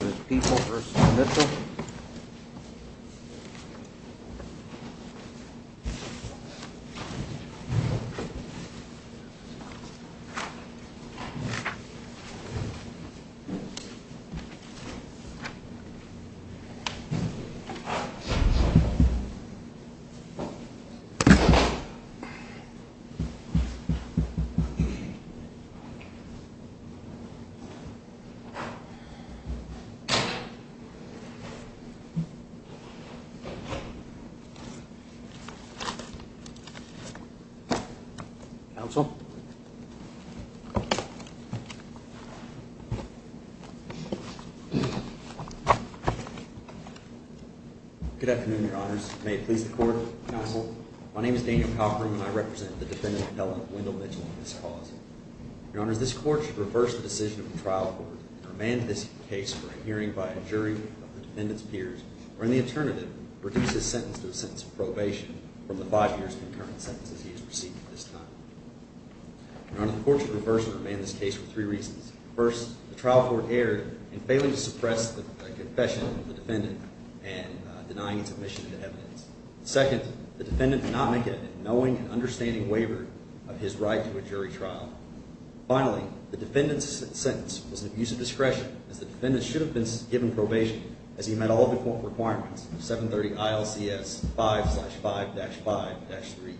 v. Mitchell Good afternoon, your honors. May it please the court, counsel. My name is Daniel Cochran and I represent the defendant, Helen Wendell Mitchell, in this cause. Your honors, this jury of the defendant's peers, or in the alternative, reduce his sentence to a sentence of probation from the five years of concurrent sentences he has received at this time. Your honor, the court should reverse and remand this case for three reasons. First, the trial court erred in failing to suppress the confession of the defendant and denying its admission to evidence. Second, the defendant did not make it a knowing and understanding waiver of his right to a jury trial. Finally, the defendant's sentence was an abuse of discretion as the defendant should have been given probation as he met all the requirements of 730 ILCS 5-5-5-3E.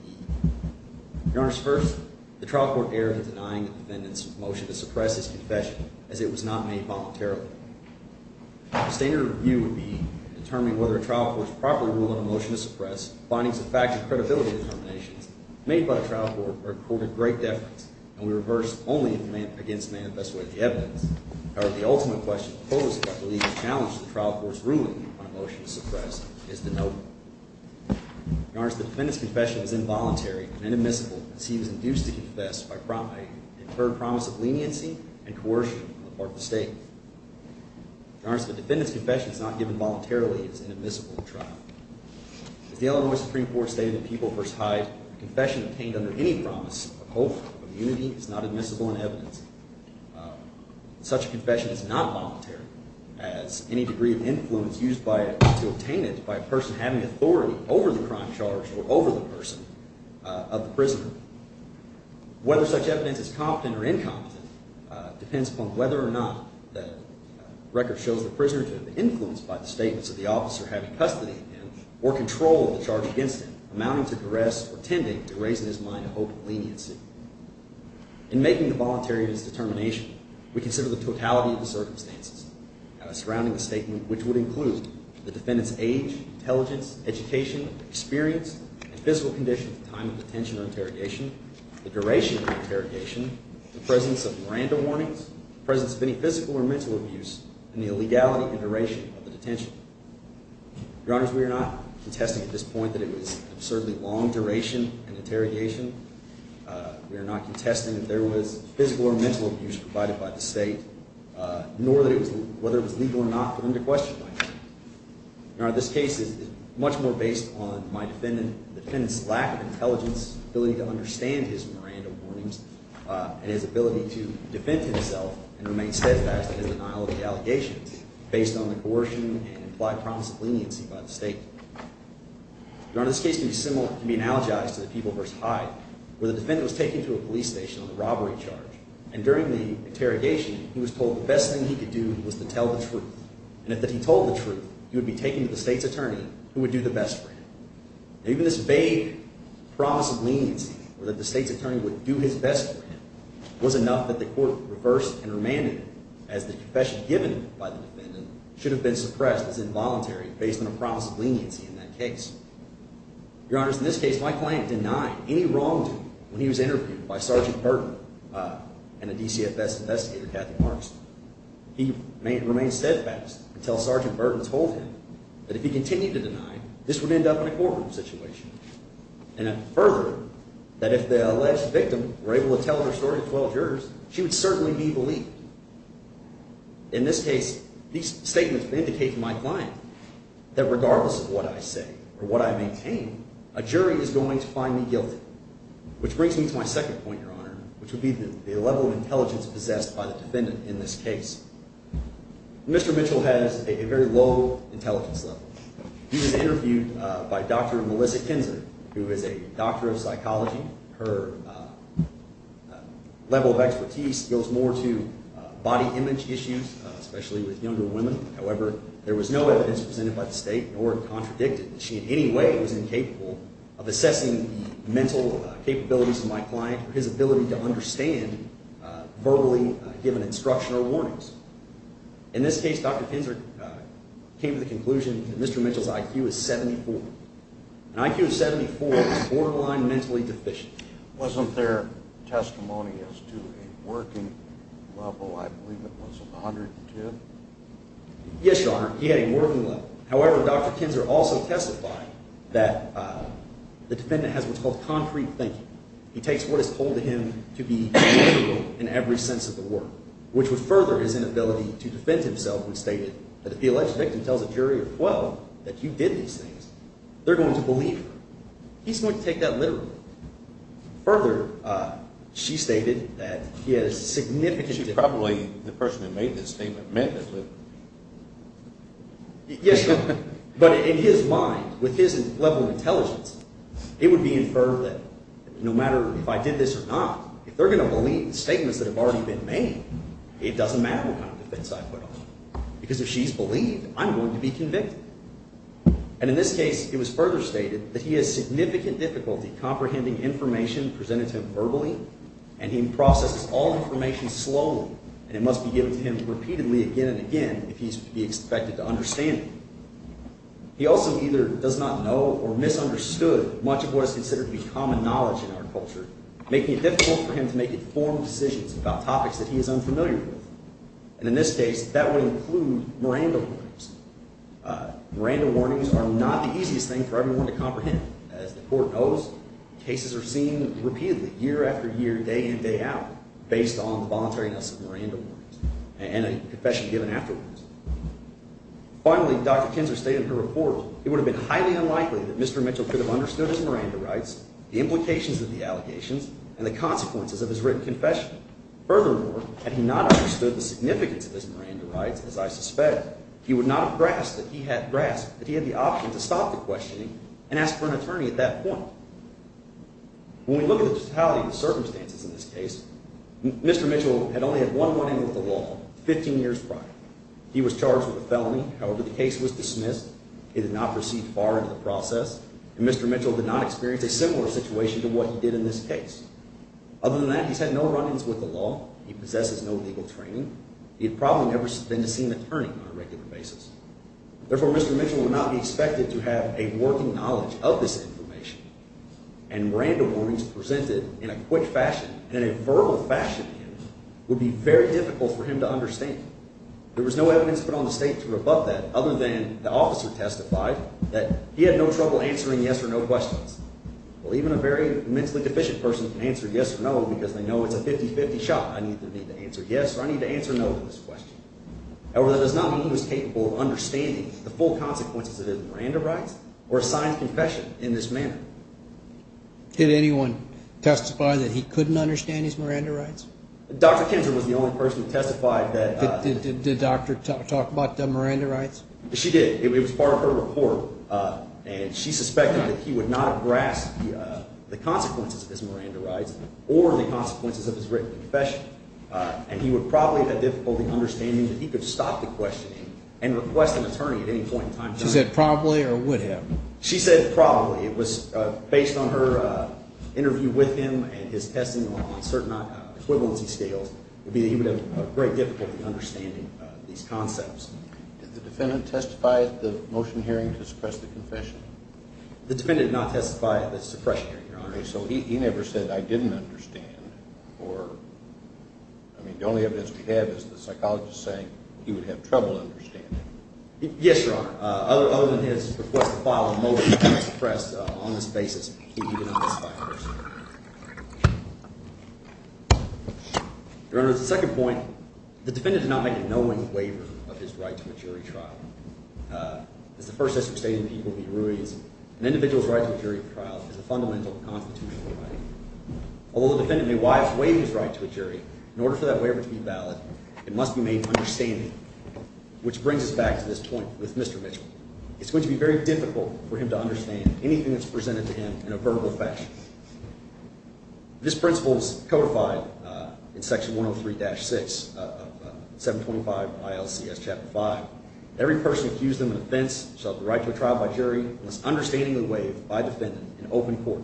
Your honors, first, the trial court erred in denying the defendant's motion to suppress his confession as it was not made voluntarily. The standard review would be determining whether a trial court's proper rule on a motion to suppress findings of fact and credibility determinations made by the trial court were of great deference and we would reverse only if it meant against the manifesto of the evidence. However, the ultimate question posed by the legal challenge to the trial court's ruling on a motion to suppress is the note. Your honors, the defendant's confession is involuntary and inadmissible as he was induced to confess by a concurred promise of leniency and coercion on the part of the state. Your honors, the defendant's confession is not given voluntarily as inadmissible to trial. As the Illinois Supreme Court stated in People v. Hyde, a confession obtained under any promise of hope of unity is not admissible in evidence. Such a confession is not voluntary as any degree of influence used to obtain it by a person having authority over the crime charge or over the person of the prisoner. Whether such evidence is competent or incompetent depends upon whether or not the record shows the prisoner to have been influenced by the statements of the officer having custody of him or control of the charge against him amounting to duress or tending to raise in his mind a hope of leniency. In making the voluntary of his determination, we consider the totality of the circumstances surrounding the statement which would include the defendant's age, intelligence, education, experience, and physical condition at the time of detention or interrogation, the duration of the interrogation, the presence of Miranda warnings, the presence of any physical or mental abuse, and the illegality and duration of the detention. Your Honors, we are not contesting at this point that it was an absurdly long duration and interrogation. We are not contesting that there was physical or mental abuse provided by the State, nor that it was whether it was legal or not put into question by the State. Your Honor, this case is much more based on my defendant's lack of intelligence, ability to understand his Miranda warnings, and his ability to defend himself and remain steadfast in his denial of the allegations based on the coercion and implied promise of leniency by the State. Your Honor, this case can be analogized to the People v. Hyde where the defendant was taken to a police station on a robbery charge. And during the interrogation, he was told the best thing he could do was to tell the truth. And if that he told the truth, he would be taken to the State's attorney who would do the best for him. Now, even this vague promise of leniency or that the State's attorney would do his best for him was enough that the court reversed and remanded him as the confession given by the defendant should have been suppressed as involuntary based on a promise of leniency in that case. Your Honor, in this case, my client denied any wrongdoing when he was interviewed by Sergeant Burton and a DCFS investigator, Kathy Markson. He remained steadfast until Sergeant Burton told him that if he continued to deny, this would end up in a courtroom situation. And further, that if the alleged victim were able to tell her story to 12 jurors, she would certainly be believed. In this case, these statements indicate to my client that regardless of what I say or what I maintain, a jury is going to find me guilty, which brings me to my second point, Your Honor, which would be the level of intelligence possessed by the defendant in this case. Mr. Mitchell has a very low intelligence level. He was interviewed by Dr. Melissa Kinzer, who is a doctor of psychology. Her level of expertise goes more to body image issues, especially with younger women. However, there was no evidence presented by the State nor contradicted that she in any way was incapable of assessing the mental capabilities of my client or his ability to understand verbally given instruction or warnings. In this case, Dr. Kinzer came to the conclusion that Mr. Mitchell's IQ is 74. An IQ of 74 is borderline mentally deficient. Wasn't there testimony as to a working level? I believe it was 102. Yes, Your Honor. He had a working level. However, Dr. Kinzer also testified that the defendant has what's called concrete thinking. He takes what is told to him to be literal in every sense of the word, which would further his inability to defend himself who stated that if the alleged victim tells a jury of 12 that you did these things, they're going to believe her. He's going to take that literally. Further, she stated that he had a significant difference. She probably, the person who made this statement, meant it. Yes, Your Honor. But in his mind, with his level of intelligence, it would be inferred that no matter if I did this or not, if they're going to believe the statements that have already been made, it doesn't matter what kind of defense I put on them. Because if she's believed, I'm going to be convicted. And in this case, it was further stated that he has significant difficulty comprehending information presented to him verbally, and he processes all information slowly, and it must be given to him repeatedly again and again if he's to be expected to understand it. He also either does not know or misunderstood much of what is considered to be common knowledge in our culture, making it difficult for him to make informed decisions about topics that he is unfamiliar with. And in this case, that would include Miranda warnings. Miranda warnings are not the easiest thing for everyone to comprehend. As the Court knows, cases are seen repeatedly, year after year, day in, day out, based on the voluntariness of Miranda warnings and a confession given afterwards. Finally, Dr. Kinzer stated in her report, it would have been highly unlikely that Mr. Mitchell could have understood his Miranda rights, the implications of the allegations, and the consequences of his written confession. Furthermore, had he not understood the significance of his Miranda rights, as I suspect, he would not have grasped that he had the option to stop the questioning and ask for an attorney at that point. When we look at the totality of the circumstances in this case, Mr. Mitchell had only had one run-in with the law 15 years prior. He was charged with a felony. However, the case was dismissed. He did not proceed far into the process, and Mr. Mitchell did not experience a similar situation to what he did in this case. Other than that, he has had no run-ins with the law. He possesses no legal training. He had probably never been to see an attorney on a regular basis. Therefore, Mr. Mitchell would not be expected to have a working knowledge of this information, and verbal fashioning would be very difficult for him to understand. There was no evidence put on the state to rebut that, other than the officer testified that he had no trouble answering yes or no questions. Well, even a very mentally deficient person can answer yes or no because they know it's a 50-50 shot. I either need to answer yes or I need to answer no to this question. However, that does not mean he was capable of understanding the full consequences of his Miranda rights or a signed confession in this manner. Did anyone testify that he couldn't understand his Miranda rights? Dr. Kendra was the only person who testified that... Did the doctor talk about the Miranda rights? She did. It was part of her report, and she suspected that he would not have grasped the consequences of his Miranda rights or the consequences of his written confession, and he would probably have had difficulty understanding that he could stop the questioning and request an attorney. It was based on her interview with him and his testing on certain equivalency scales. It would be that he would have great difficulty understanding these concepts. Did the defendant testify at the motion hearing to suppress the confession? The defendant did not testify at the suppression hearing, Your Honor. So he never said, I didn't understand, or... I mean, the only evidence we have is the psychologist saying he would have trouble understanding. Yes, Your Honor. Other than his request to file a motion to suppress on this basis, he did not testify, Your Honor. Your Honor, the second point, the defendant did not make a knowing waiver of his right to a jury trial. As the first history of state and people be ruies, an individual's right to a jury trial is a fundamental constitutional right. Although the defendant may wisely waive his right to a jury, in order for that waiver to be valid, it must be made understanding, which brings us back to this point with Mr. Mitchell. It's going to be very difficult for him to understand anything that's presented to him in a verbal fashion. This principle is codified in Section 103-6 of 725 ILCS Chapter 5. Every person accused in an offense shall have the right to a trial by jury unless understandingly waived by defendant in open court.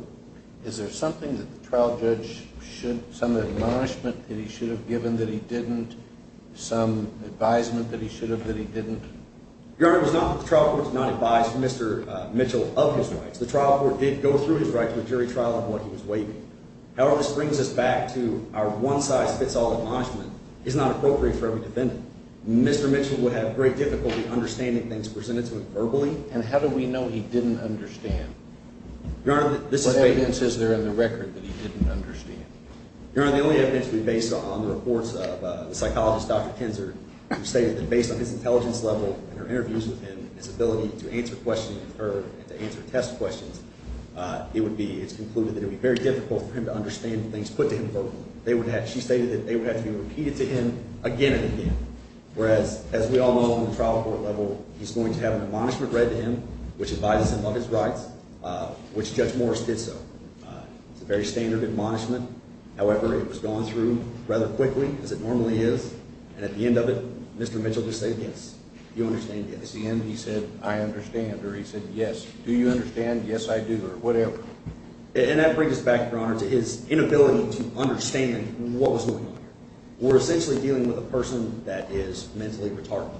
Is there something that the trial judge should... some admonishment that he should have given that he didn't? Some advisement that he should have that he didn't? Your Honor, it was not that the trial court did not advise Mr. Mitchell of his rights. The trial court did go through his right to a jury trial on what he was waiving. However, this brings us back to our one-size-fits-all admonishment. It's not appropriate for every defendant. Mr. Mitchell would have great difficulty understanding things presented to him verbally. And how do we know he didn't understand? Your Honor, this is... What evidence is there in the record that he didn't understand? Your Honor, the only evidence to be based on the reports of the psychologist, Dr. Kinzer, who stated that based on his intelligence level and her interviews with him, his ability to answer questions with her and to answer test questions, it would be... it's concluded that it would be very difficult for him to understand things put to him verbally. They would have... she stated that they would have to be repeated to him again and again. Whereas, as we all know on the trial court level, he's going to have an admonishment read to him which advises him of his rights, which Judge Morris did so. It's a very standard admonishment. However, it was gone through rather quickly as it normally is. And at the end of it, Mr. Mitchell just said, yes, you understand, yes. At the end, he said, I understand. Or he said, yes, do you understand? Yes, I do. Or whatever. And that brings us back, Your Honor, to his inability to understand what was going on here. We're essentially dealing with a person that is mentally retarded.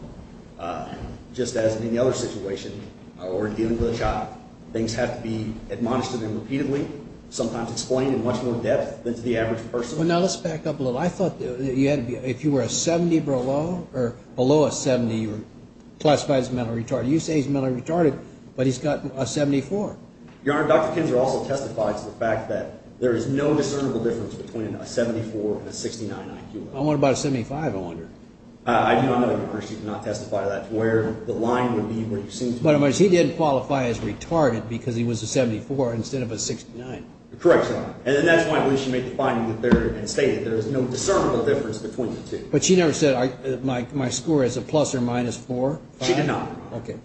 Just as in any other situation where we're dealing with a child, things have to be admonished to them repeatedly, sometimes explained in much more depth than to the average person. Well, now let's back up a little. I thought that you had... if you were a 70 below or below a 70, you were classified as mentally retarded. You say he's mentally retarded, but he's got a 74. Your Honor, Dr. Kinzer also testified to the fact that there is no discernible difference between a 74 and a 69 IQ level. Well, what about a 75, I wonder? I do not know, Your Honor. She did not testify to that, to where the line would be where you seem to be. But in other words, he did qualify as retarded because he was a 74 instead of a 69. Correct, Your Honor. And that's why I believe she made the finding there and stated there is no discernible difference between the two. But she never said my score is a plus or minus 4? She did not, Your Honor. Okay.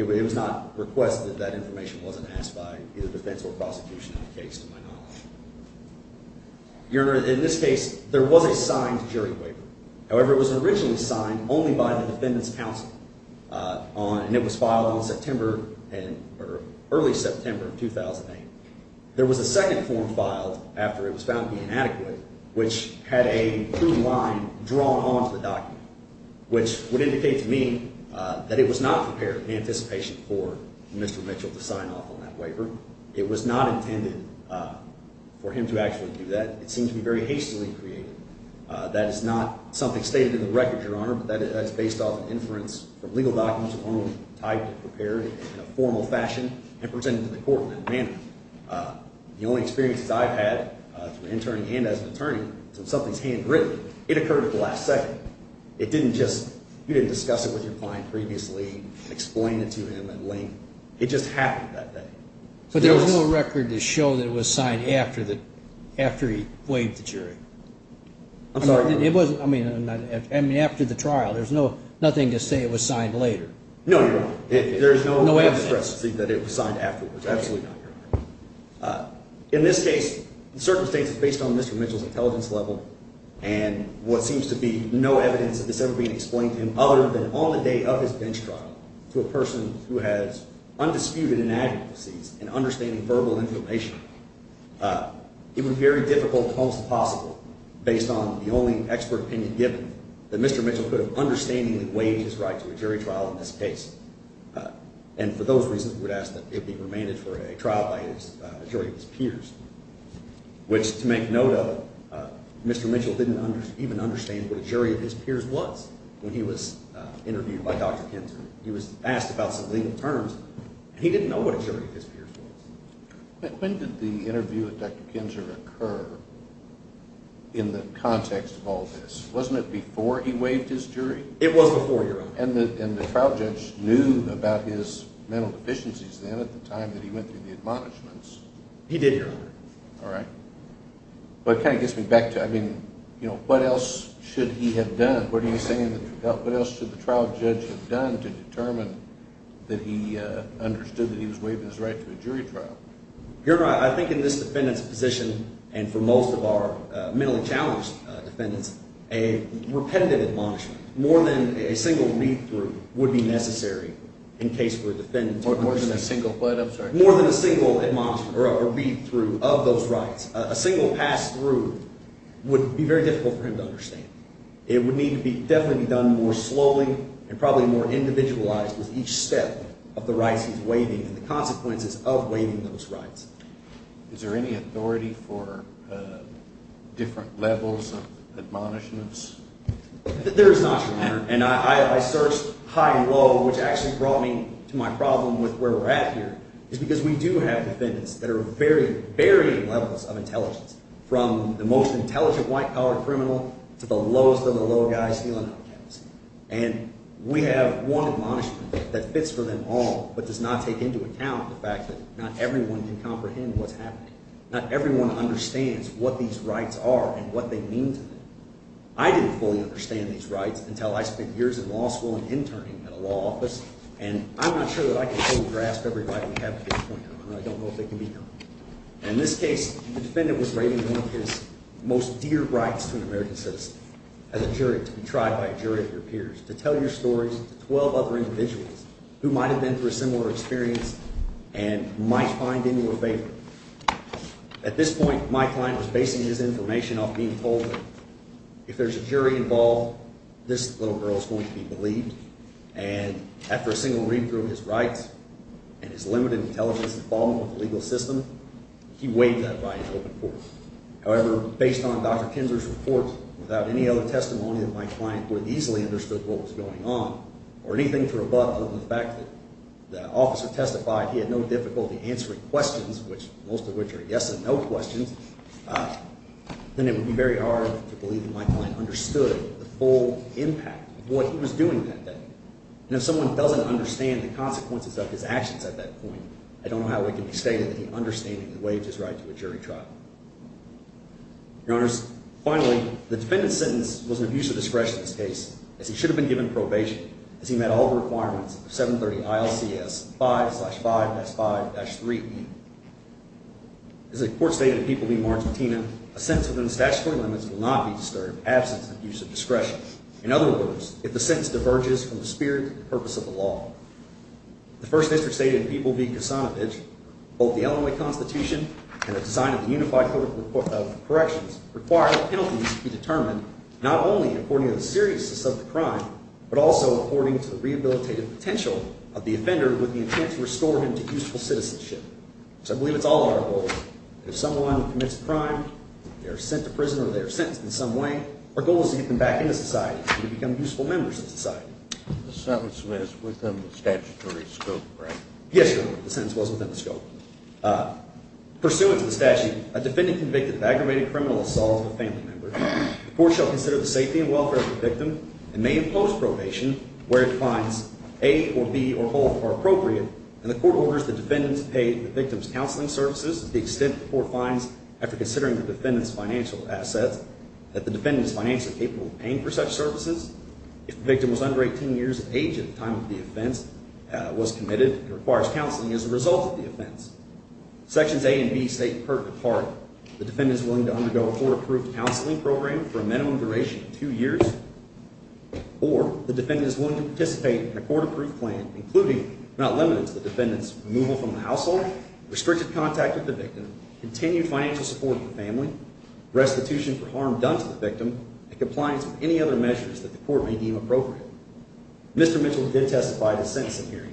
It was not requested. That information wasn't asked by either defense or prosecution in the case, to my knowledge. Your Honor, in this case, there was a signed jury waiver. However, it was originally signed only by the defendant's counsel. And it was filed in early September of 2008. There was a second form filed after it was found to be inadequate, which had a blue line drawn onto the document, which would indicate to me that it was not prepared in anticipation for Mr. Mitchell to sign off on that waiver. It was not intended for him to actually do that. It seems to be very hastily created. That is not something stated in the record, Your Honor, but that is based off an inference from legal documents of my own type prepared in a formal fashion and presented to the court in that manner. The only experiences I've had through interning and as an attorney is when something is handwritten. It occurred at the last second. It didn't just, you didn't discuss it with your client previously, explain it to him at length. It just happened that day. But there was no record to show that it was signed after he waived the jury? I'm sorry. It wasn't, I mean, after the trial, there's no, nothing to say it was signed later. No, Your Honor. There's no evidence that it was signed afterwards. Absolutely not, Your Honor. In this case, the circumstances based on Mr. Mitchell's intelligence level and what seems to be no evidence of this ever being explained to him other than on the day of his bench trial to a person who has undisputed inadequacies in understanding verbal information, it would be very difficult, close to possible, based on the only expert opinion given, that Mr. Mitchell could have understandingly waived his right to a jury trial in this case. And for those reasons, we would ask that it be remanded for a trial by a jury of his peers. Which, to make note of it, Mr. Mitchell didn't even understand what a jury of his peers was when he was When did the interview with Dr. Kinzer occur in the context of all this? Wasn't it before he waived his jury? It was before, Your Honor. And the trial judge knew about his mental deficiencies then at the time that he went through the admonishments? He did, Your Honor. All right. But it kind of gets me back to, I mean, what else should he have done? What are you saying, what else should the trial judge have done to determine that he understood that he was waiving his right to a jury trial? Your Honor, I think in this defendant's position, and for most of our mentally challenged defendants, a repetitive admonishment, more than a single read-through, would be necessary in case we're defendants. More than a single what? I'm sorry. More than a single read-through of those rights. A single pass-through would be very difficult for him to understand. It would need to definitely be done more slowly and probably more individualized with each step of the rights he's waiving and the consequences of waiving those rights. Is there any authority for different levels of admonishments? There is not, Your Honor. And I searched high and low, which actually brought me to my problem with where we're at here, is because we do have defendants that are varying, varying levels of intelligence, from the most intelligent white-collar criminal to the lowest of the low guys stealing out of campus. And we have one admonishment that fits for them all, but does not take into account the fact that not everyone can comprehend what's happening. Not everyone understands what these rights are and what they mean to them. I didn't fully understand these rights until I spent years in law school and interning at a law school in New York. And in this case, the defendant was waiving one of his most dear rights to an American citizen, as a jury, to be tried by a jury of your peers, to tell your stories to 12 other individuals who might have been through a similar experience and might find in you a favor. At this point, my client was basing his information off being told that if there's a jury involved, this little girl is going to be believed. And after a single read through of his rights and his limited intelligence and involvement with the legal system, he waived that right and opened court. However, based on Dr. Kinzer's report, without any other testimony that my client would have easily understood what was going on, or anything to rebut other than the fact that the officer testified he had no difficulty answering questions, which most of which are yes and no questions, then it would be very hard to believe that my client understood the full impact of what he was doing that day. And if someone doesn't understand the consequences of his actions at that point, I don't know how it can be stated that he understood that he waived his right to a jury trial. Your Honors, finally, the defendant's sentence was an abuse of discretion in this case, as he should have been given probation, as he met all the requirements of 730 ILCS 5-5-5-3E. As the court stated in People v. Margentina, a sentence within the statutory limits will not be disturbed absence of abuse of discretion. In other words, if the sentence diverges from the spirit and purpose of the law. The first interest stated in People v. Kasanovich, both the Illinois Constitution and the design of the Unified Code of Corrections require that penalties be determined not only according to the seriousness of the crime, but also according to the rehabilitative potential of the offender with the intent to restore him to useful citizenship. So I believe it's all our goal that if someone commits a crime, they are sent to prison or they are sentenced in some way, our goal is to get them back into society and to become useful members of society. The sentence was within the statutory scope, right? Yes, Your Honor, the sentence was within the scope. Pursuant to the statute, a defendant convicted of aggravated criminal assault of a family member, the court shall consider the safety and welfare of the victim and may impose probation where it finds A or B or both are appropriate. And the court orders the defendant to pay the victim's counseling services to the extent the court finds, after considering the defendant's financial assets, that the defendant is financially capable of paying for such services. If the victim was under 18 years of age at the time of the offense was committed, it requires counseling as a result of the offense. Sections A and B state in part that the defendant is willing to undergo a court-approved counseling program for a minimum duration of two years, or the defendant is willing to participate in a court-approved plan including, if not limited to, the defendant's removal from the household, restricted contact with the victim, continued financial support for the family, restitution for harm done to the victim, and compliance with any other measures that the court may deem appropriate. Mr. Mitchell did testify at his testimony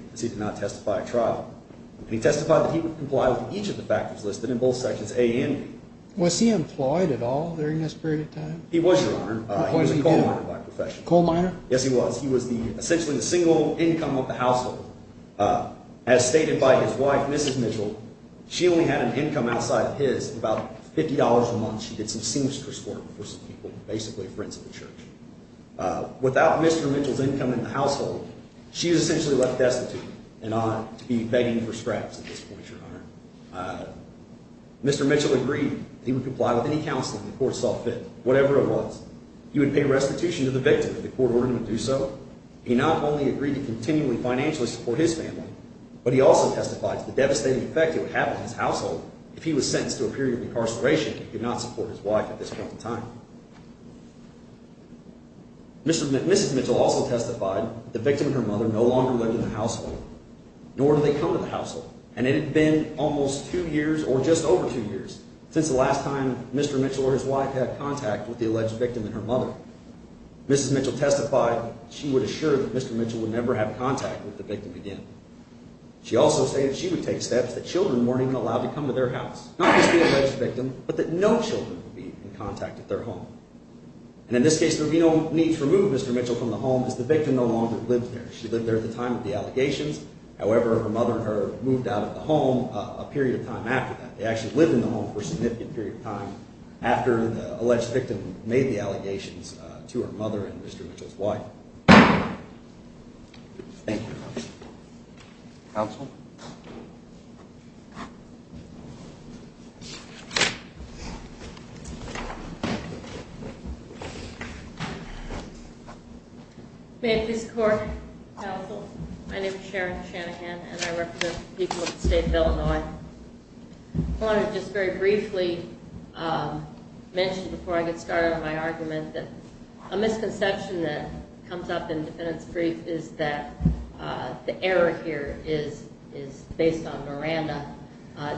in both sections A and B. Was he employed at all during this period of time? He was, Your Honor. He was a coal miner by profession. Coal miner? Yes, he was. He was essentially the single income of the household. As stated by his wife, Mrs. Mitchell, she only had an income outside of his, about $50 a month. She did some seamstress work for some people, basically friends of the church. Without Mr. Mitchell's income in the household, she is essentially left destitute and ought to be begging for scraps at this point, Your Honor. Mr. Mitchell agreed that he would comply with any counseling the court saw fit, whatever it was. He would pay restitution to the victim if the court ordered him to do so. He not only agreed to continually financially support his family, but he also testified to the devastating effect it would have on his household if he was sentenced to a period of incarceration if he could not support his wife at this point in time. Mrs. Mitchell also testified that the victim and her mother no longer lived in the household, nor do they come to the household. And it had been almost two years, or just over two years, since the last time Mr. Mitchell or his wife had contact with the alleged victim and her mother. Mrs. Mitchell testified she would assure that Mr. Mitchell would never have contact with the victim again. She also stated she would take steps that children weren't even allowed to come to their house, not just the alleged victim, but that no children would be in contact with their home. And in this case, there would be no need to remove Mr. Mitchell from the home as the victim no longer lived there. She lived there at the time of the allegations. However, her mother and her moved out of the home a period of time after that. They actually lived in the home for a significant period of time after the alleged victim made the allegations to her mother and Mr. Mitchell's wife. Thank you. Counsel? May it please the Court. Counsel, my name is Sharon Shanahan and I represent the people of the state of Illinois. I want to just very briefly mention before I get started on my argument that a misconception that comes up in the defendant's brief is that the error here is based on Miranda.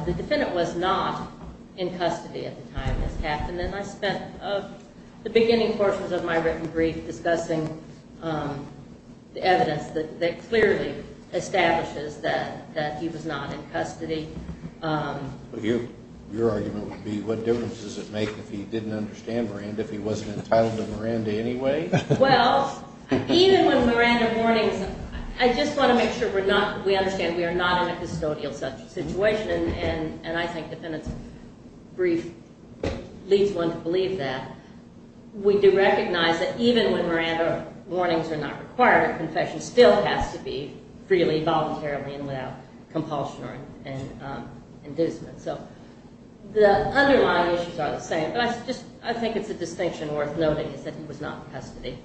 The defendant was not in custody at the time this happened and I spent the beginning portions of my written brief discussing the evidence that clearly establishes that he was not in custody. Your argument would be what difference does it make if he didn't understand Miranda, if he wasn't entitled to Miranda anyway? Well, even with Miranda warnings, I just want to make sure we understand we are not in a custodial situation and I think the defendant's brief leads one to believe that. We do recognize that even when Miranda compulsion and inducement. So the underlying issues are the same, but I think it's a distinction worth noting is that he was not in custody.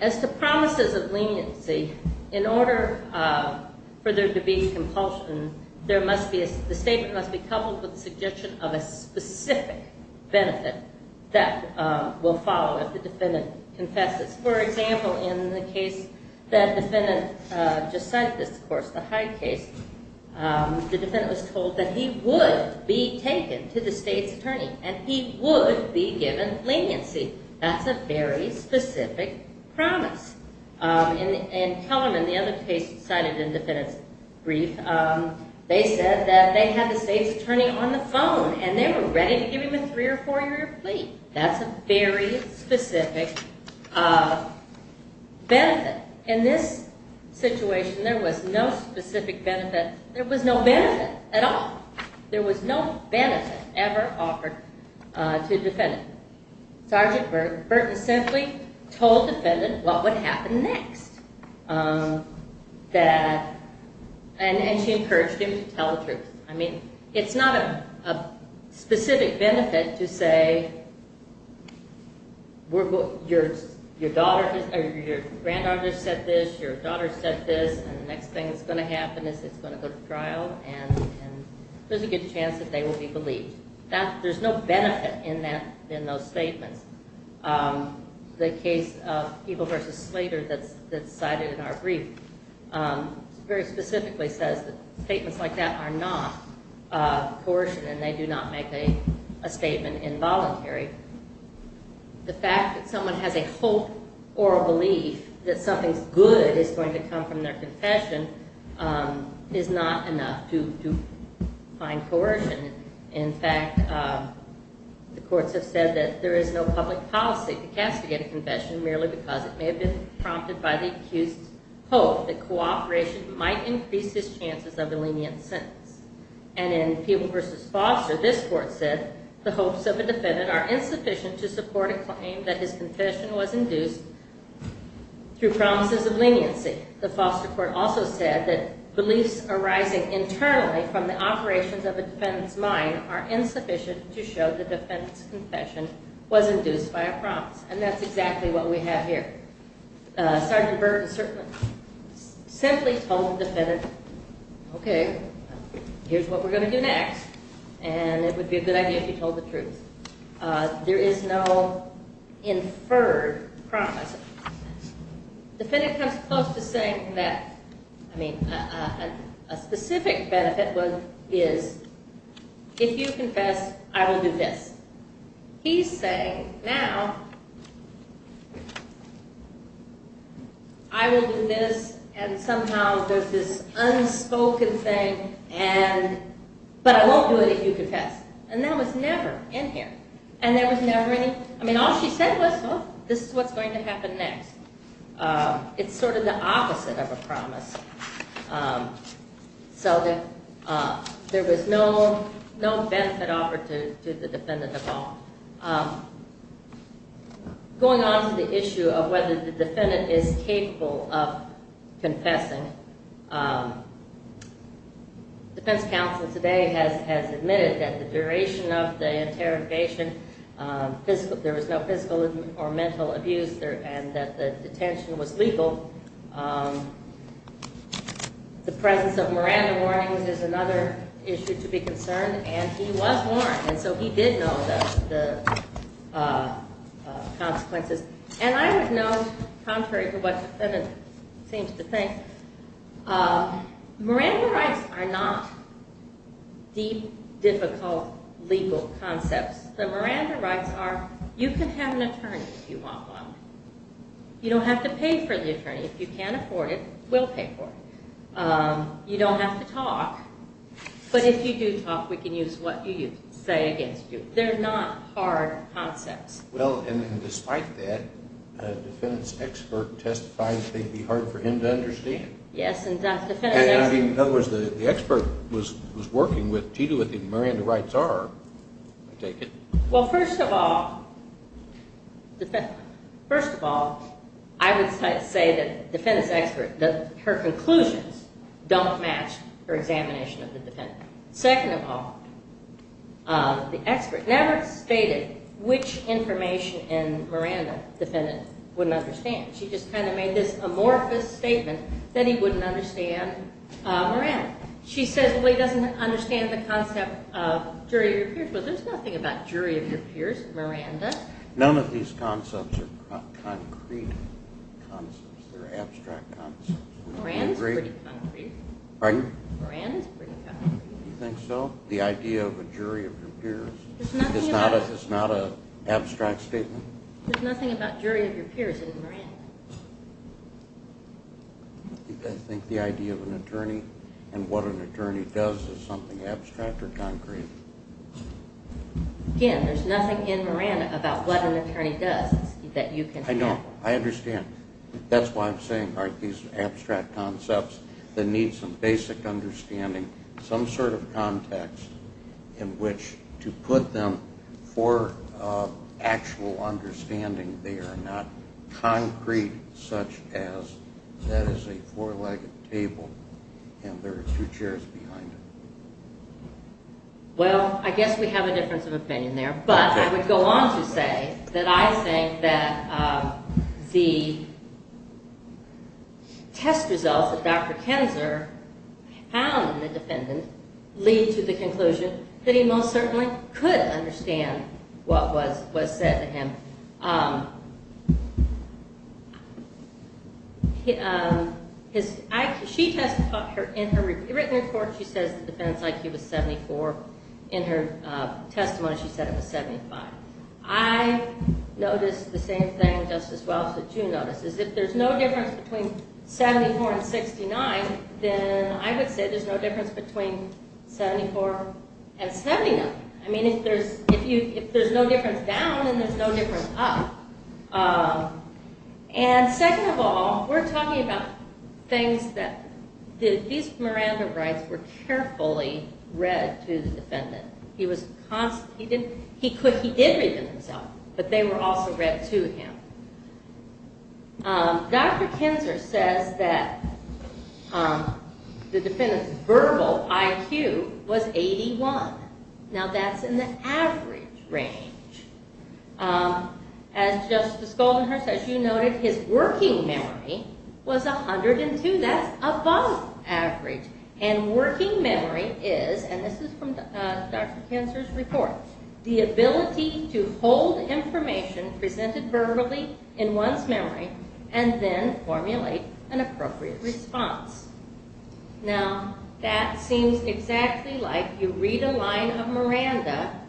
As to promises of leniency, in order for there to be compulsion, the statement must be coupled with the suggestion of a specific benefit that will follow if the defendant confesses. For example, in the case that the defendant just cited, the Hyde case, the defendant was told that he would be taken to the state's attorney and he would be given leniency. That's a very specific promise. In Kellerman, the other case cited in the defendant's brief, they said that they had the state's attorney on the phone and they were ready to give him a three or four year plea. That's a very specific benefit. In this situation, there was no specific benefit. There was no benefit at all. There was no benefit ever offered to the defendant. Sergeant Burton simply told the defendant what would happen next. And she encouraged him to tell the truth. It's not a specific benefit to say your granddaughter said this, your daughter said this, and the next thing that's going to happen is it's going to go to trial. There's a good chance that they will be believed. There's no benefit in those statements that are cited in our brief. It very specifically says that statements like that are not coercion and they do not make a statement involuntary. The fact that someone has a hope or a belief that something good is going to come from their confession is not enough to find coercion. In fact, the courts have said that there is no public policy to castigate a confession merely because it may have been prompted by the accused's hope that cooperation might increase his chances of a lenient sentence. And in Peeble v. Foster, this court said the hopes of a defendant are insufficient to support a claim that his confession was induced through promises of leniency. The Foster court also said that beliefs arising internally from the confession was induced by a promise, and that's exactly what we have here. Sergeant Burke simply told the defendant, okay, here's what we're going to do next, and it would be a good idea if you told the truth. There is no inferred promise. The defendant comes close to saying that a specific benefit is, if you confess, I will do this. He's saying, now, I will do this, and somehow there's this unspoken thing, but I won't do it if you confess. And that was never in here. And there was never any, I mean, all she said was, look, this is what's going to happen next. It's sort of the opposite of a promise. So there was no benefit offered to the defendant at all. Going on to the issue of whether the defendant is capable of confessing, defense counsel today has admitted that the duration of the interrogation, there was no physical or mental abuse, and that the detention was legal. The presence of Miranda warnings is another issue to be concerned, and he was warned, and so he did know the consequences. And I would note, contrary to what the defendant seems to think, Miranda rights are not deep, difficult, legal concepts. The Miranda rights are, you can have an attorney if you want one. You don't have to pay for the attorney. If you can't afford it, we'll pay for it. You don't have to talk, but if you do talk, we can use what you say against you. They're not hard concepts. Well, and despite that, a defendant's expert testified that they'd be hard for him to do what the Miranda rights are, I take it. Well, first of all, I would say that the defendant's expert, her conclusions don't match her examination of the defendant. Second of all, the expert never stated which information in Miranda the defendant wouldn't understand. She just kind of made this amorphous statement that he wouldn't understand Miranda. She says, well, he doesn't understand the concept of jury of your peers. Well, there's nothing about jury of your peers in Miranda. None of these concepts are concrete concepts. They're abstract concepts. Miranda's pretty concrete. Pardon? Miranda's pretty concrete. You think so? The idea of a jury of your peers is not an abstract statement? There's nothing about jury of your peers in Miranda. I think the idea of an attorney and what an attorney does is something abstract or concrete. Again, there's nothing in Miranda about what an attorney does that you can have. I know. I understand. That's why I'm saying, these abstract concepts that need some basic understanding, some sort of conceptual understanding, they are not concrete, such as that is a four-legged table and there are two chairs behind it. Well, I guess we have a difference of opinion there, but I would go on to say that I think that the test results that Dr. Kenser found in the defendant lead to the conclusion that he most certainly could understand what was said to him. In her written report, she says the defendant's IQ was 74. In her testimony, she said it was 75. I noticed the same thing, Justice Welch, that you noticed, is if there's no difference between 74 and 79, if there's no difference down and there's no difference up. Second of all, we're talking about things that these Miranda rights were carefully read to the defendant. He did read them himself, but they were also read to him. Dr. Kenser says that the defendant's verbal IQ was 81. Now, that's in the average range. As Justice Goldenhurst, as you noted, his working memory was 102. That's above average, and working memory is, and this is from Dr. Kenser's report, the ability to hold information presented verbally in one's memory and then formulate an appropriate response. Now, that seems exactly like you read a line of Miranda,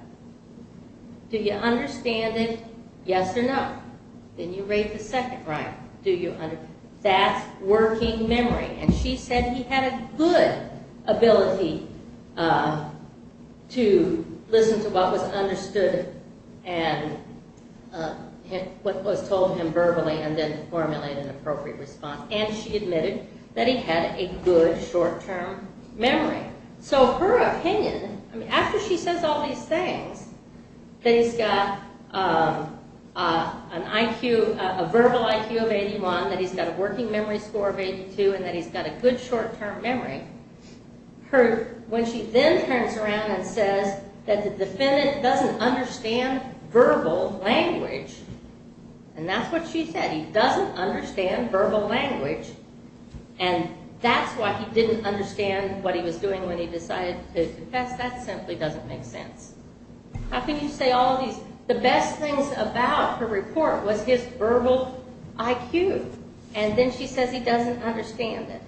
do you understand it, yes or no? Then you read the second line. That's working memory, and she said he had a good ability to listen to what was understood and what was told to him verbally and then formulate an appropriate response, and she admitted that he had a good short-term memory. Her opinion, after she says all these things, that he's got a verbal IQ of 81, that he's got a working memory score of 82, and that he's got a good short-term memory, when she then turns around and says that the defendant doesn't understand verbal language, and that's what she said, he doesn't understand verbal language, and that's why he didn't understand what he was doing when he decided to confess, that simply doesn't make sense. How can you say all these? The best things about her report was his verbal IQ, and then she says he doesn't understand it,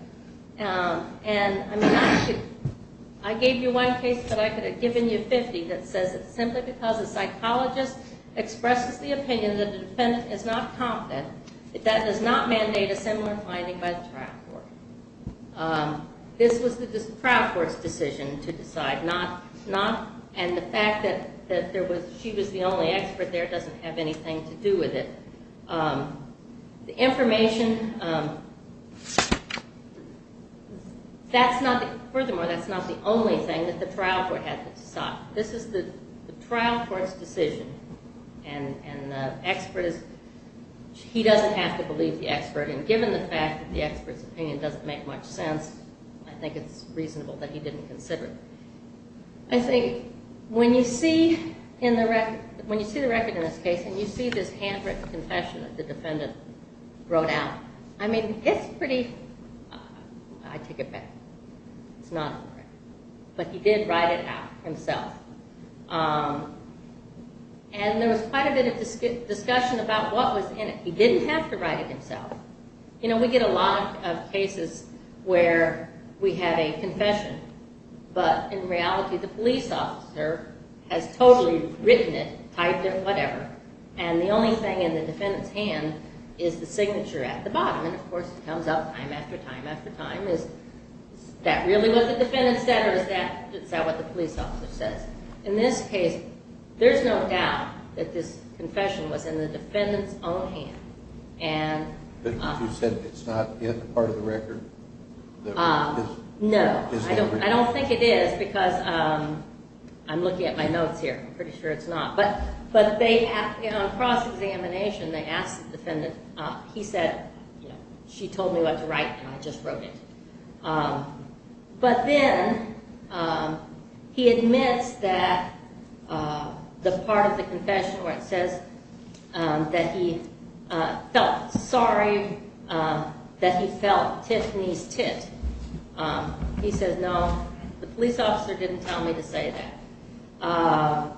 and I gave you one case that I could have given you 50 that says it's simply because a psychologist expresses the opinion that the defendant is not confident, that does not mandate a similar finding by the trial court. This was the trial court's decision to decide not, and the fact that she was the only expert there doesn't have anything to do with it. The information, furthermore, that's not the only thing that the trial court had to decide. This is the trial court's decision, and he doesn't have to believe the expert, and given the fact that the expert's opinion doesn't make much sense, I think it's reasonable that he didn't consider it. I think when you see the record in this case, and you see this handwritten confession that the defendant wrote out, I mean, it's pretty, I take it back, it's not on the record, but he did write it out himself, and there was quite a bit of discussion about what was in it. He didn't have to write it himself. We get a lot of cases where we have a confession, but in reality the police officer has totally written it, typed it, whatever, and the only thing in the defendant's hand is the signature at the bottom, and of course it comes up time after time after time, is that really what the defendant said, or is that what the police officer says? In this case, there's no doubt that this confession was in the defendant's own hand. But you said it's not part of the record? No, I don't think it is, because I'm looking at my notes here, I'm pretty sure it's not, but on cross-examination they asked the defendant, he said, she told me what to write, and I just wrote it. But then he admits that the part of the confession where it says that he felt sorry that he felt Tiffany's tit, he said, no, the police officer didn't tell me to say that.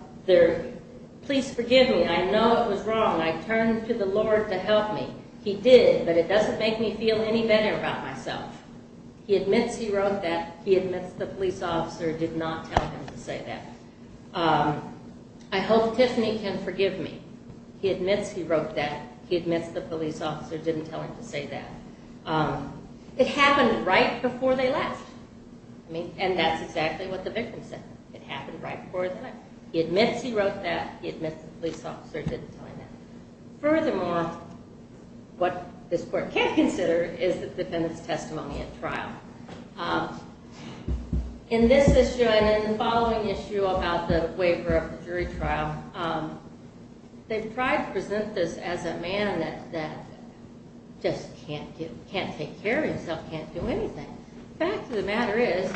Please forgive me, I know it was wrong, I turned to the defendant, and I'm very sorry for myself. He admits he wrote that, he admits the police officer did not tell him to say that. I hope Tiffany can forgive me, he admits he wrote that, he admits the police officer didn't tell him to say that. It happened right before they left, I mean, and that's exactly what the victim said. It happened right before, he admits he wrote that, he admits the police officer didn't tell him that. Furthermore, what this court can't consider is the defendant's testimony at trial. In this issue and in the following issue about the waiver of the jury trial, they've tried to present this as a man that just can't take care of himself, can't do anything. The fact of the matter is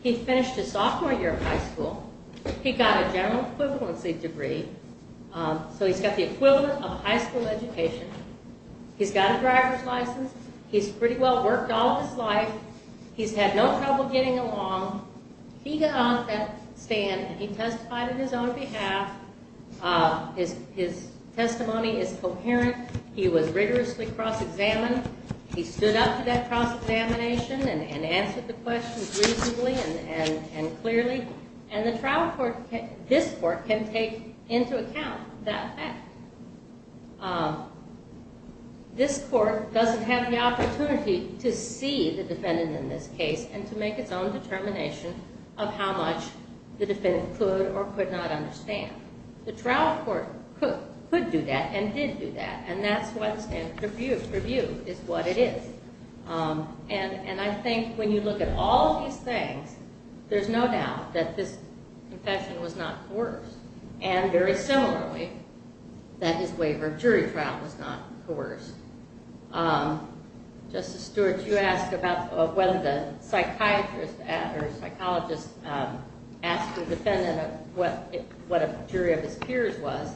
he finished his sophomore year of high school, he got a general equivalency degree, so he's got the equivalent of high school education, he's got a driver's license, he's pretty well worked all of his life, he's had no trouble getting along, he got on that stand and he testified on his own behalf, his testimony is coherent, he was rigorously cross-examined, he stood up to that cross-examination and answered the questions reasonably and clearly, and the trial court, this court can take into account that fact. This court doesn't have the opportunity to see the defendant in this case and to make its own determination of how much the defendant could or could not understand. The trial court could do that and did do that, and that's what's in purview, is what it is. And I think when you look at all these things, there's no doubt that this confession was not coerced, and very similarly that his waiver of jury trial was not coerced. Justice Stewart, you asked about whether the psychiatrist or psychologist asked the defendant what a jury of his peers was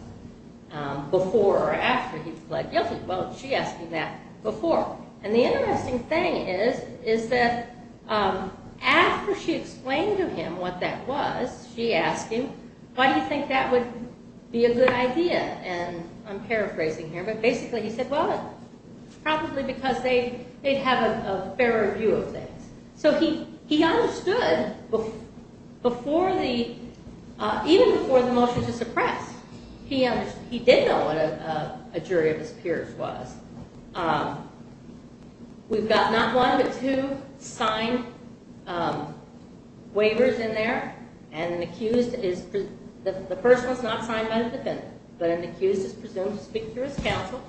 before or after he pled guilty. Well, she asked him that before. And the interesting thing is that after she explained to him what that was, she asked him, why do you think that would be a good idea? And I'm paraphrasing here, but basically he said, well, it's probably because they'd have a fairer view of things. So he understood before the, even before the motion to suppress, he did know what a jury of his peers was. We've got not one, but two signed waivers in there, and an accused is, the first one's not signed by the defendant, but an accused is presumed to speak to his counsel,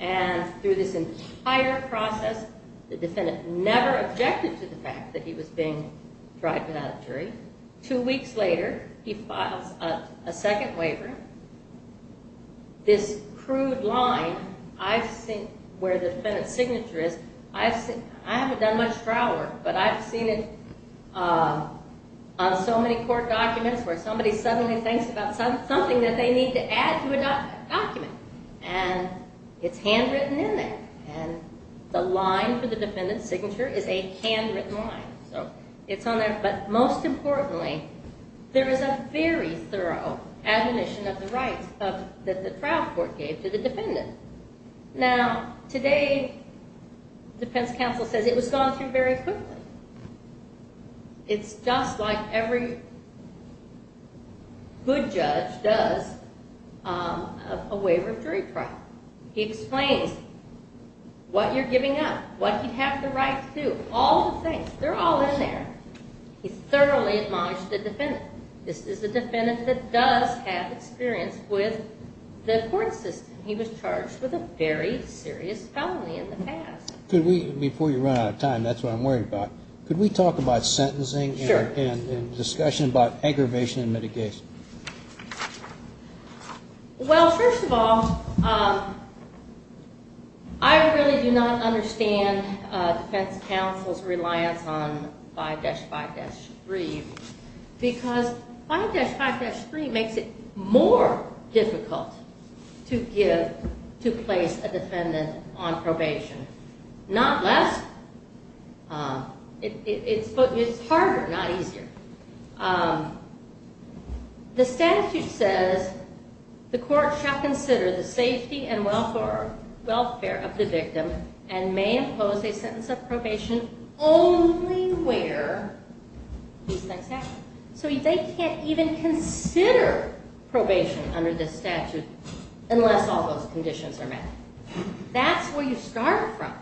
and through this entire process, the defendant never objected to the fact that he was being tried without a jury. Two weeks later, he files a second waiver. This crude line, I've seen, where the defendant's signature is, I haven't done much trial work, but I've seen it on so many court documents where somebody suddenly thinks about something that they need to add to a document, and it's handwritten in there. And the line for the defendant's signature is a handwritten line. It's on there, but most importantly, there is a very thorough admonition of the rights that the trial court gave to the defendant. Now, today, defense counsel says it was gone through very quickly. It's just like every good judge does a waiver of jury trial. He explains what you're giving up, what you have the right to do. All the things, they're all in there. He thoroughly admonished the defendant. This is a defendant that does have experience with the court system. He was charged with a very serious felony in the past. Before you run out of time, that's what I'm worried about. Could we talk about sentencing and discussion about aggravation and mitigation? Well, first of all, I really do not understand defense counsel's reliance on 5-5-3, because 5-5-3 makes it more difficult to place a defendant on probation, not less. It's harder, not easier. So they can't even consider probation under this statute unless all those conditions are met. That's where you start from.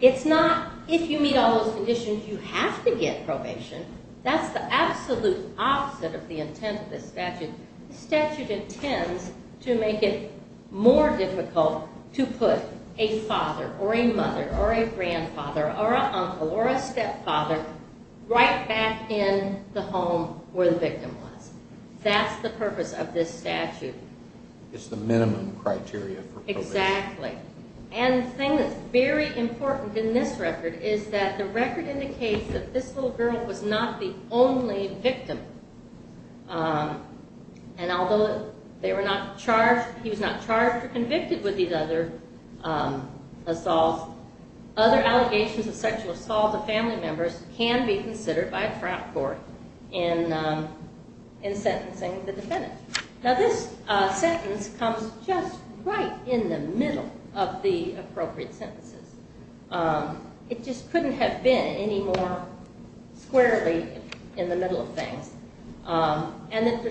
It's not, if you meet all those conditions, you have to get probation. That's the absolute opposite of the intent of this statute. This statute intends to make it more difficult to put a father, or a mother, or a grandfather, or an uncle, or a stepfather right back in the home where the victim was. That's the purpose of this statute. It's the minimum criteria for probation. And the thing that's very important in this record is that the record indicates that this little girl was not the only victim. And although he was not charged or convicted with these other assaults, other allegations of sexual assault to family members can be considered by a front court in sentencing the defendant. Now this sentence comes just right in the middle of the appropriate sentences. It just couldn't have been any more squarely in the middle of things. And the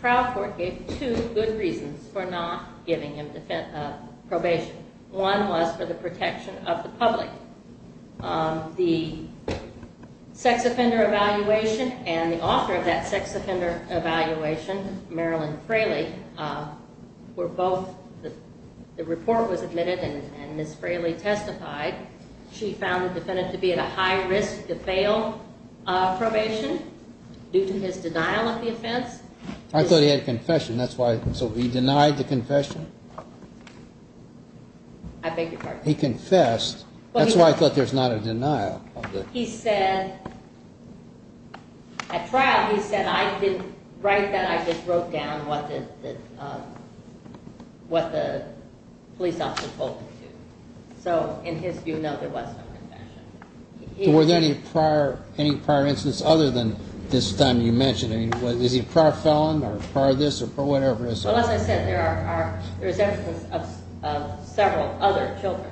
trial court gave two good reasons for not giving him probation. One was for the protection of the public. The sex offender evaluation and the author of that sex offender evaluation, Marilyn Fraley, where both the report was admitted and Ms. Fraley testified, she found the defendant to be at a high risk to fail probation due to his denial of the offense. I thought he had a confession. So he denied the confession? I beg your pardon? He confessed. That's why I thought there's not a denial. He said, at trial, he said, right then I just wrote down what the police officer told me to. So in his view, no, there was no confession. Were there any prior instances other than this time you mentioned? Is he a prior felon or prior this or whatever? Well, as I said, there are several other children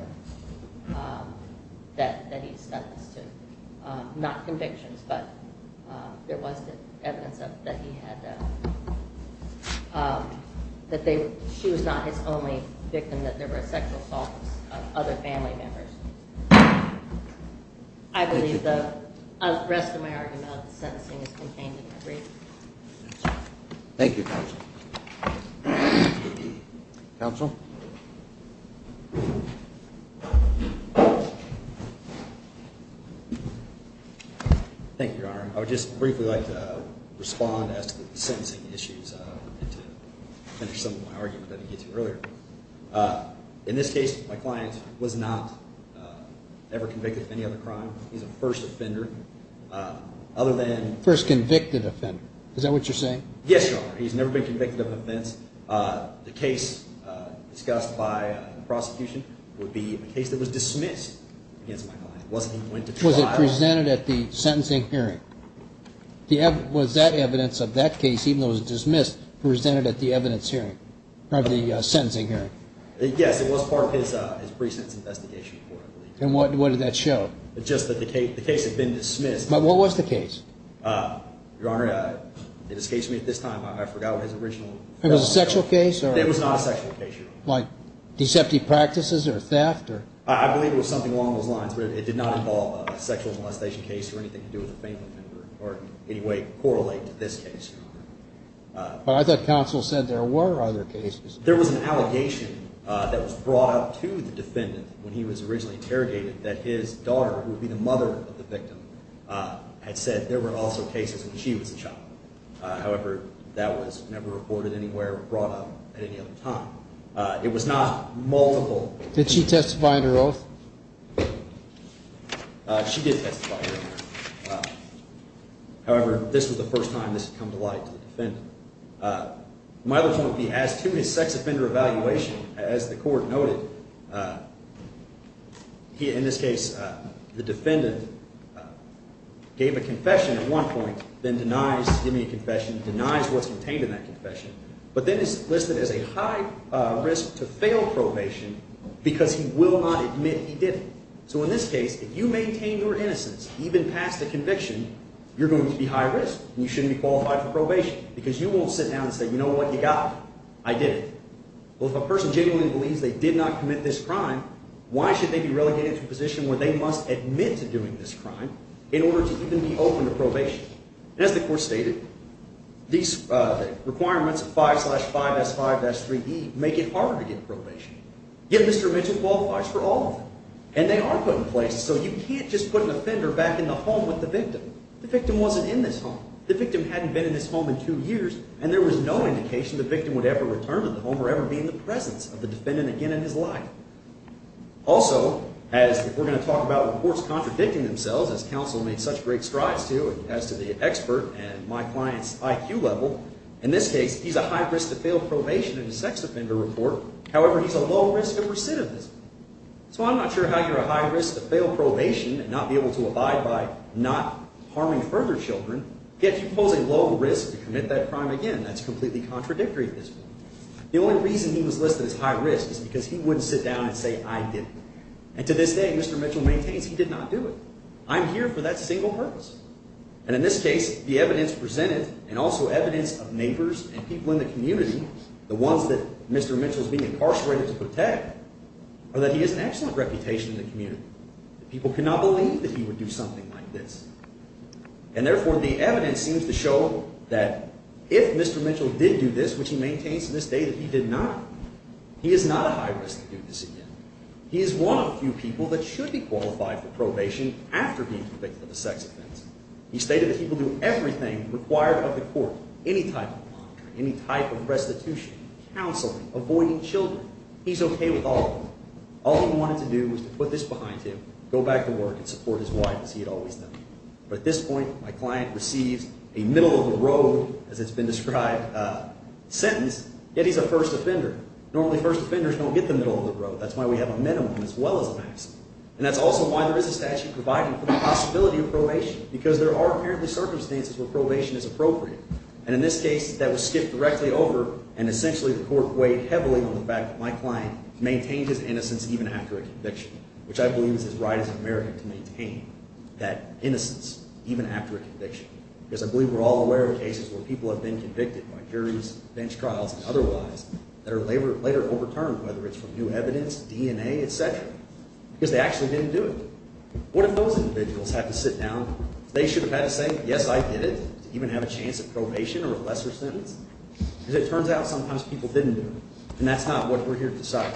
that he's sentenced to. Not convictions, but there was evidence that he had, that she was not his only victim, that there were sexual assaults of other family members. I believe the rest of my argument on the sentencing is contained in my brief. Thank you, Counsel. Counsel? Thank you, Your Honor. I would just briefly like to respond as to the sentencing issues and to finish some of my argument that I gave to you earlier. In this case, my client was not ever convicted of any other crime. He's a first offender. First convicted offender. Is that what you're saying? Yes, Your Honor. He's never been convicted of offense. The case discussed by the prosecution would be a case that was dismissed against my client. Was it presented at the sentencing hearing? Was that evidence of that case, even though it was dismissed, presented at the sentencing hearing? Yes, it was part of his precinct's investigation report, I believe. And what did that show? Just that the case had been dismissed. But what was the case? Your Honor, it escapes me at this time. I forgot what his original... It was a sexual case? It was not a sexual case, Your Honor. Like deceptive practices or theft? I believe it was something along those lines, but it did not involve a sexual molestation case or anything to do with a family member or any way correlate to this case, Your Honor. But I thought counsel said there were other cases. There was an allegation that was brought up to the defendant when he was originally interrogated that his daughter, who would be the mother of the victim, had said there were also cases when she was a child. However, that was never reported anywhere or brought up at any other time. It was not multiple... Did she testify under oath? She did testify, Your Honor. However, this was the first time this had come to light to the defendant. My other point would be, as to his sex offender evaluation, as the court noted, in this case, the defendant gave a confession at one point, then denies giving a confession, denies what's contained in that confession, but then is listed as a high risk to fail probation because he will not admit he didn't. So in this case, if you maintain your innocence even past the conviction, you're going to be high risk. You shouldn't be qualified for probation because you won't sit down and say, you know what? You got it. I did it. Well, if a person genuinely believes they did not commit this crime, why should they be relegated to a position where they must admit to doing this crime in order to even be open to probation? And as the court stated, these requirements of 5 slash 5S5S3E make it harder to get probation. Yet Mr. Mitchell qualifies for all of them. And they are put in place so you can't just put an offender back in the home with the victim. The victim wasn't in this home. The victim hadn't been in this home in two years, and there was no indication the victim would ever return to the home or ever be in the presence of the defendant again in his life. Also, as we're going to talk about reports contradicting themselves, as counsel made such great strides to as to the expert and my client's IQ level, in this case, he's a high risk to fail probation in a sex offender report. However, he's a low risk of recidivism. So I'm not sure how you're a high risk to fail probation and not be able to abide by not harming further children, yet you pose a low risk to commit that crime again. That's completely contradictory to this. The only reason he was listed as high risk is because he wouldn't sit down and say, I didn't. And to this day, Mr. Mitchell maintains he did not do it. I'm here for that single purpose. And in this case, the evidence presented and also evidence of neighbors and people in the community, the ones that Mr. Mitchell is being incarcerated to protect, are that he has an excellent reputation in the community. People cannot believe that he would do something like this. And therefore, the evidence seems to show that if Mr. Mitchell did do this, which he maintains to this day that he did not, he is not a high risk to do this again. He is one of the few people that should be qualified for probation after being convicted of a sex offense. He stated that he will do everything required of the court, any type of monitor, any type of restitution, counseling, avoiding children. He's okay with all of them. All he wanted to do was to put this behind him, go back to work and support his wife as he had always done. But at this point, my client receives a middle-of-the-road, as it's been described, sentence, yet he's a first offender. Normally, first offenders don't get the middle-of-the-road. That's why we have a minimum as well as a maximum. And that's also why there is a statute providing for the possibility of probation, because there are apparently circumstances where probation is appropriate. And in this case, that was skipped directly over, and essentially the court weighed heavily on the fact that my client maintained his innocence even after a conviction, which I believe is as right as American to maintain that innocence even after a conviction, because I believe we're all aware of cases where people have been convicted by juries, bench trials and otherwise that are later overturned, whether it's from new evidence, DNA, et cetera, because they actually didn't do it. What if those individuals had to sit down? They should have had to say, probation or a lesser sentence? Because it turns out sometimes people didn't do it. And that's not what we're here to decide.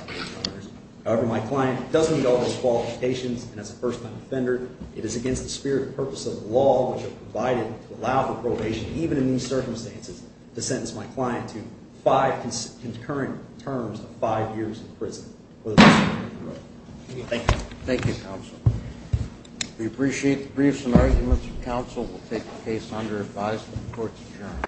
However, my client doesn't meet all those qualifications, and as a first-time offender, it is against the spirit and purpose of the law which are provided to allow for probation, even in these circumstances, to sentence my client to five concurrent terms of five years in prison. Thank you. Thank you, Counsel. We appreciate the briefs and arguments. The Counsel will take the case under advice of the Court's Attorney.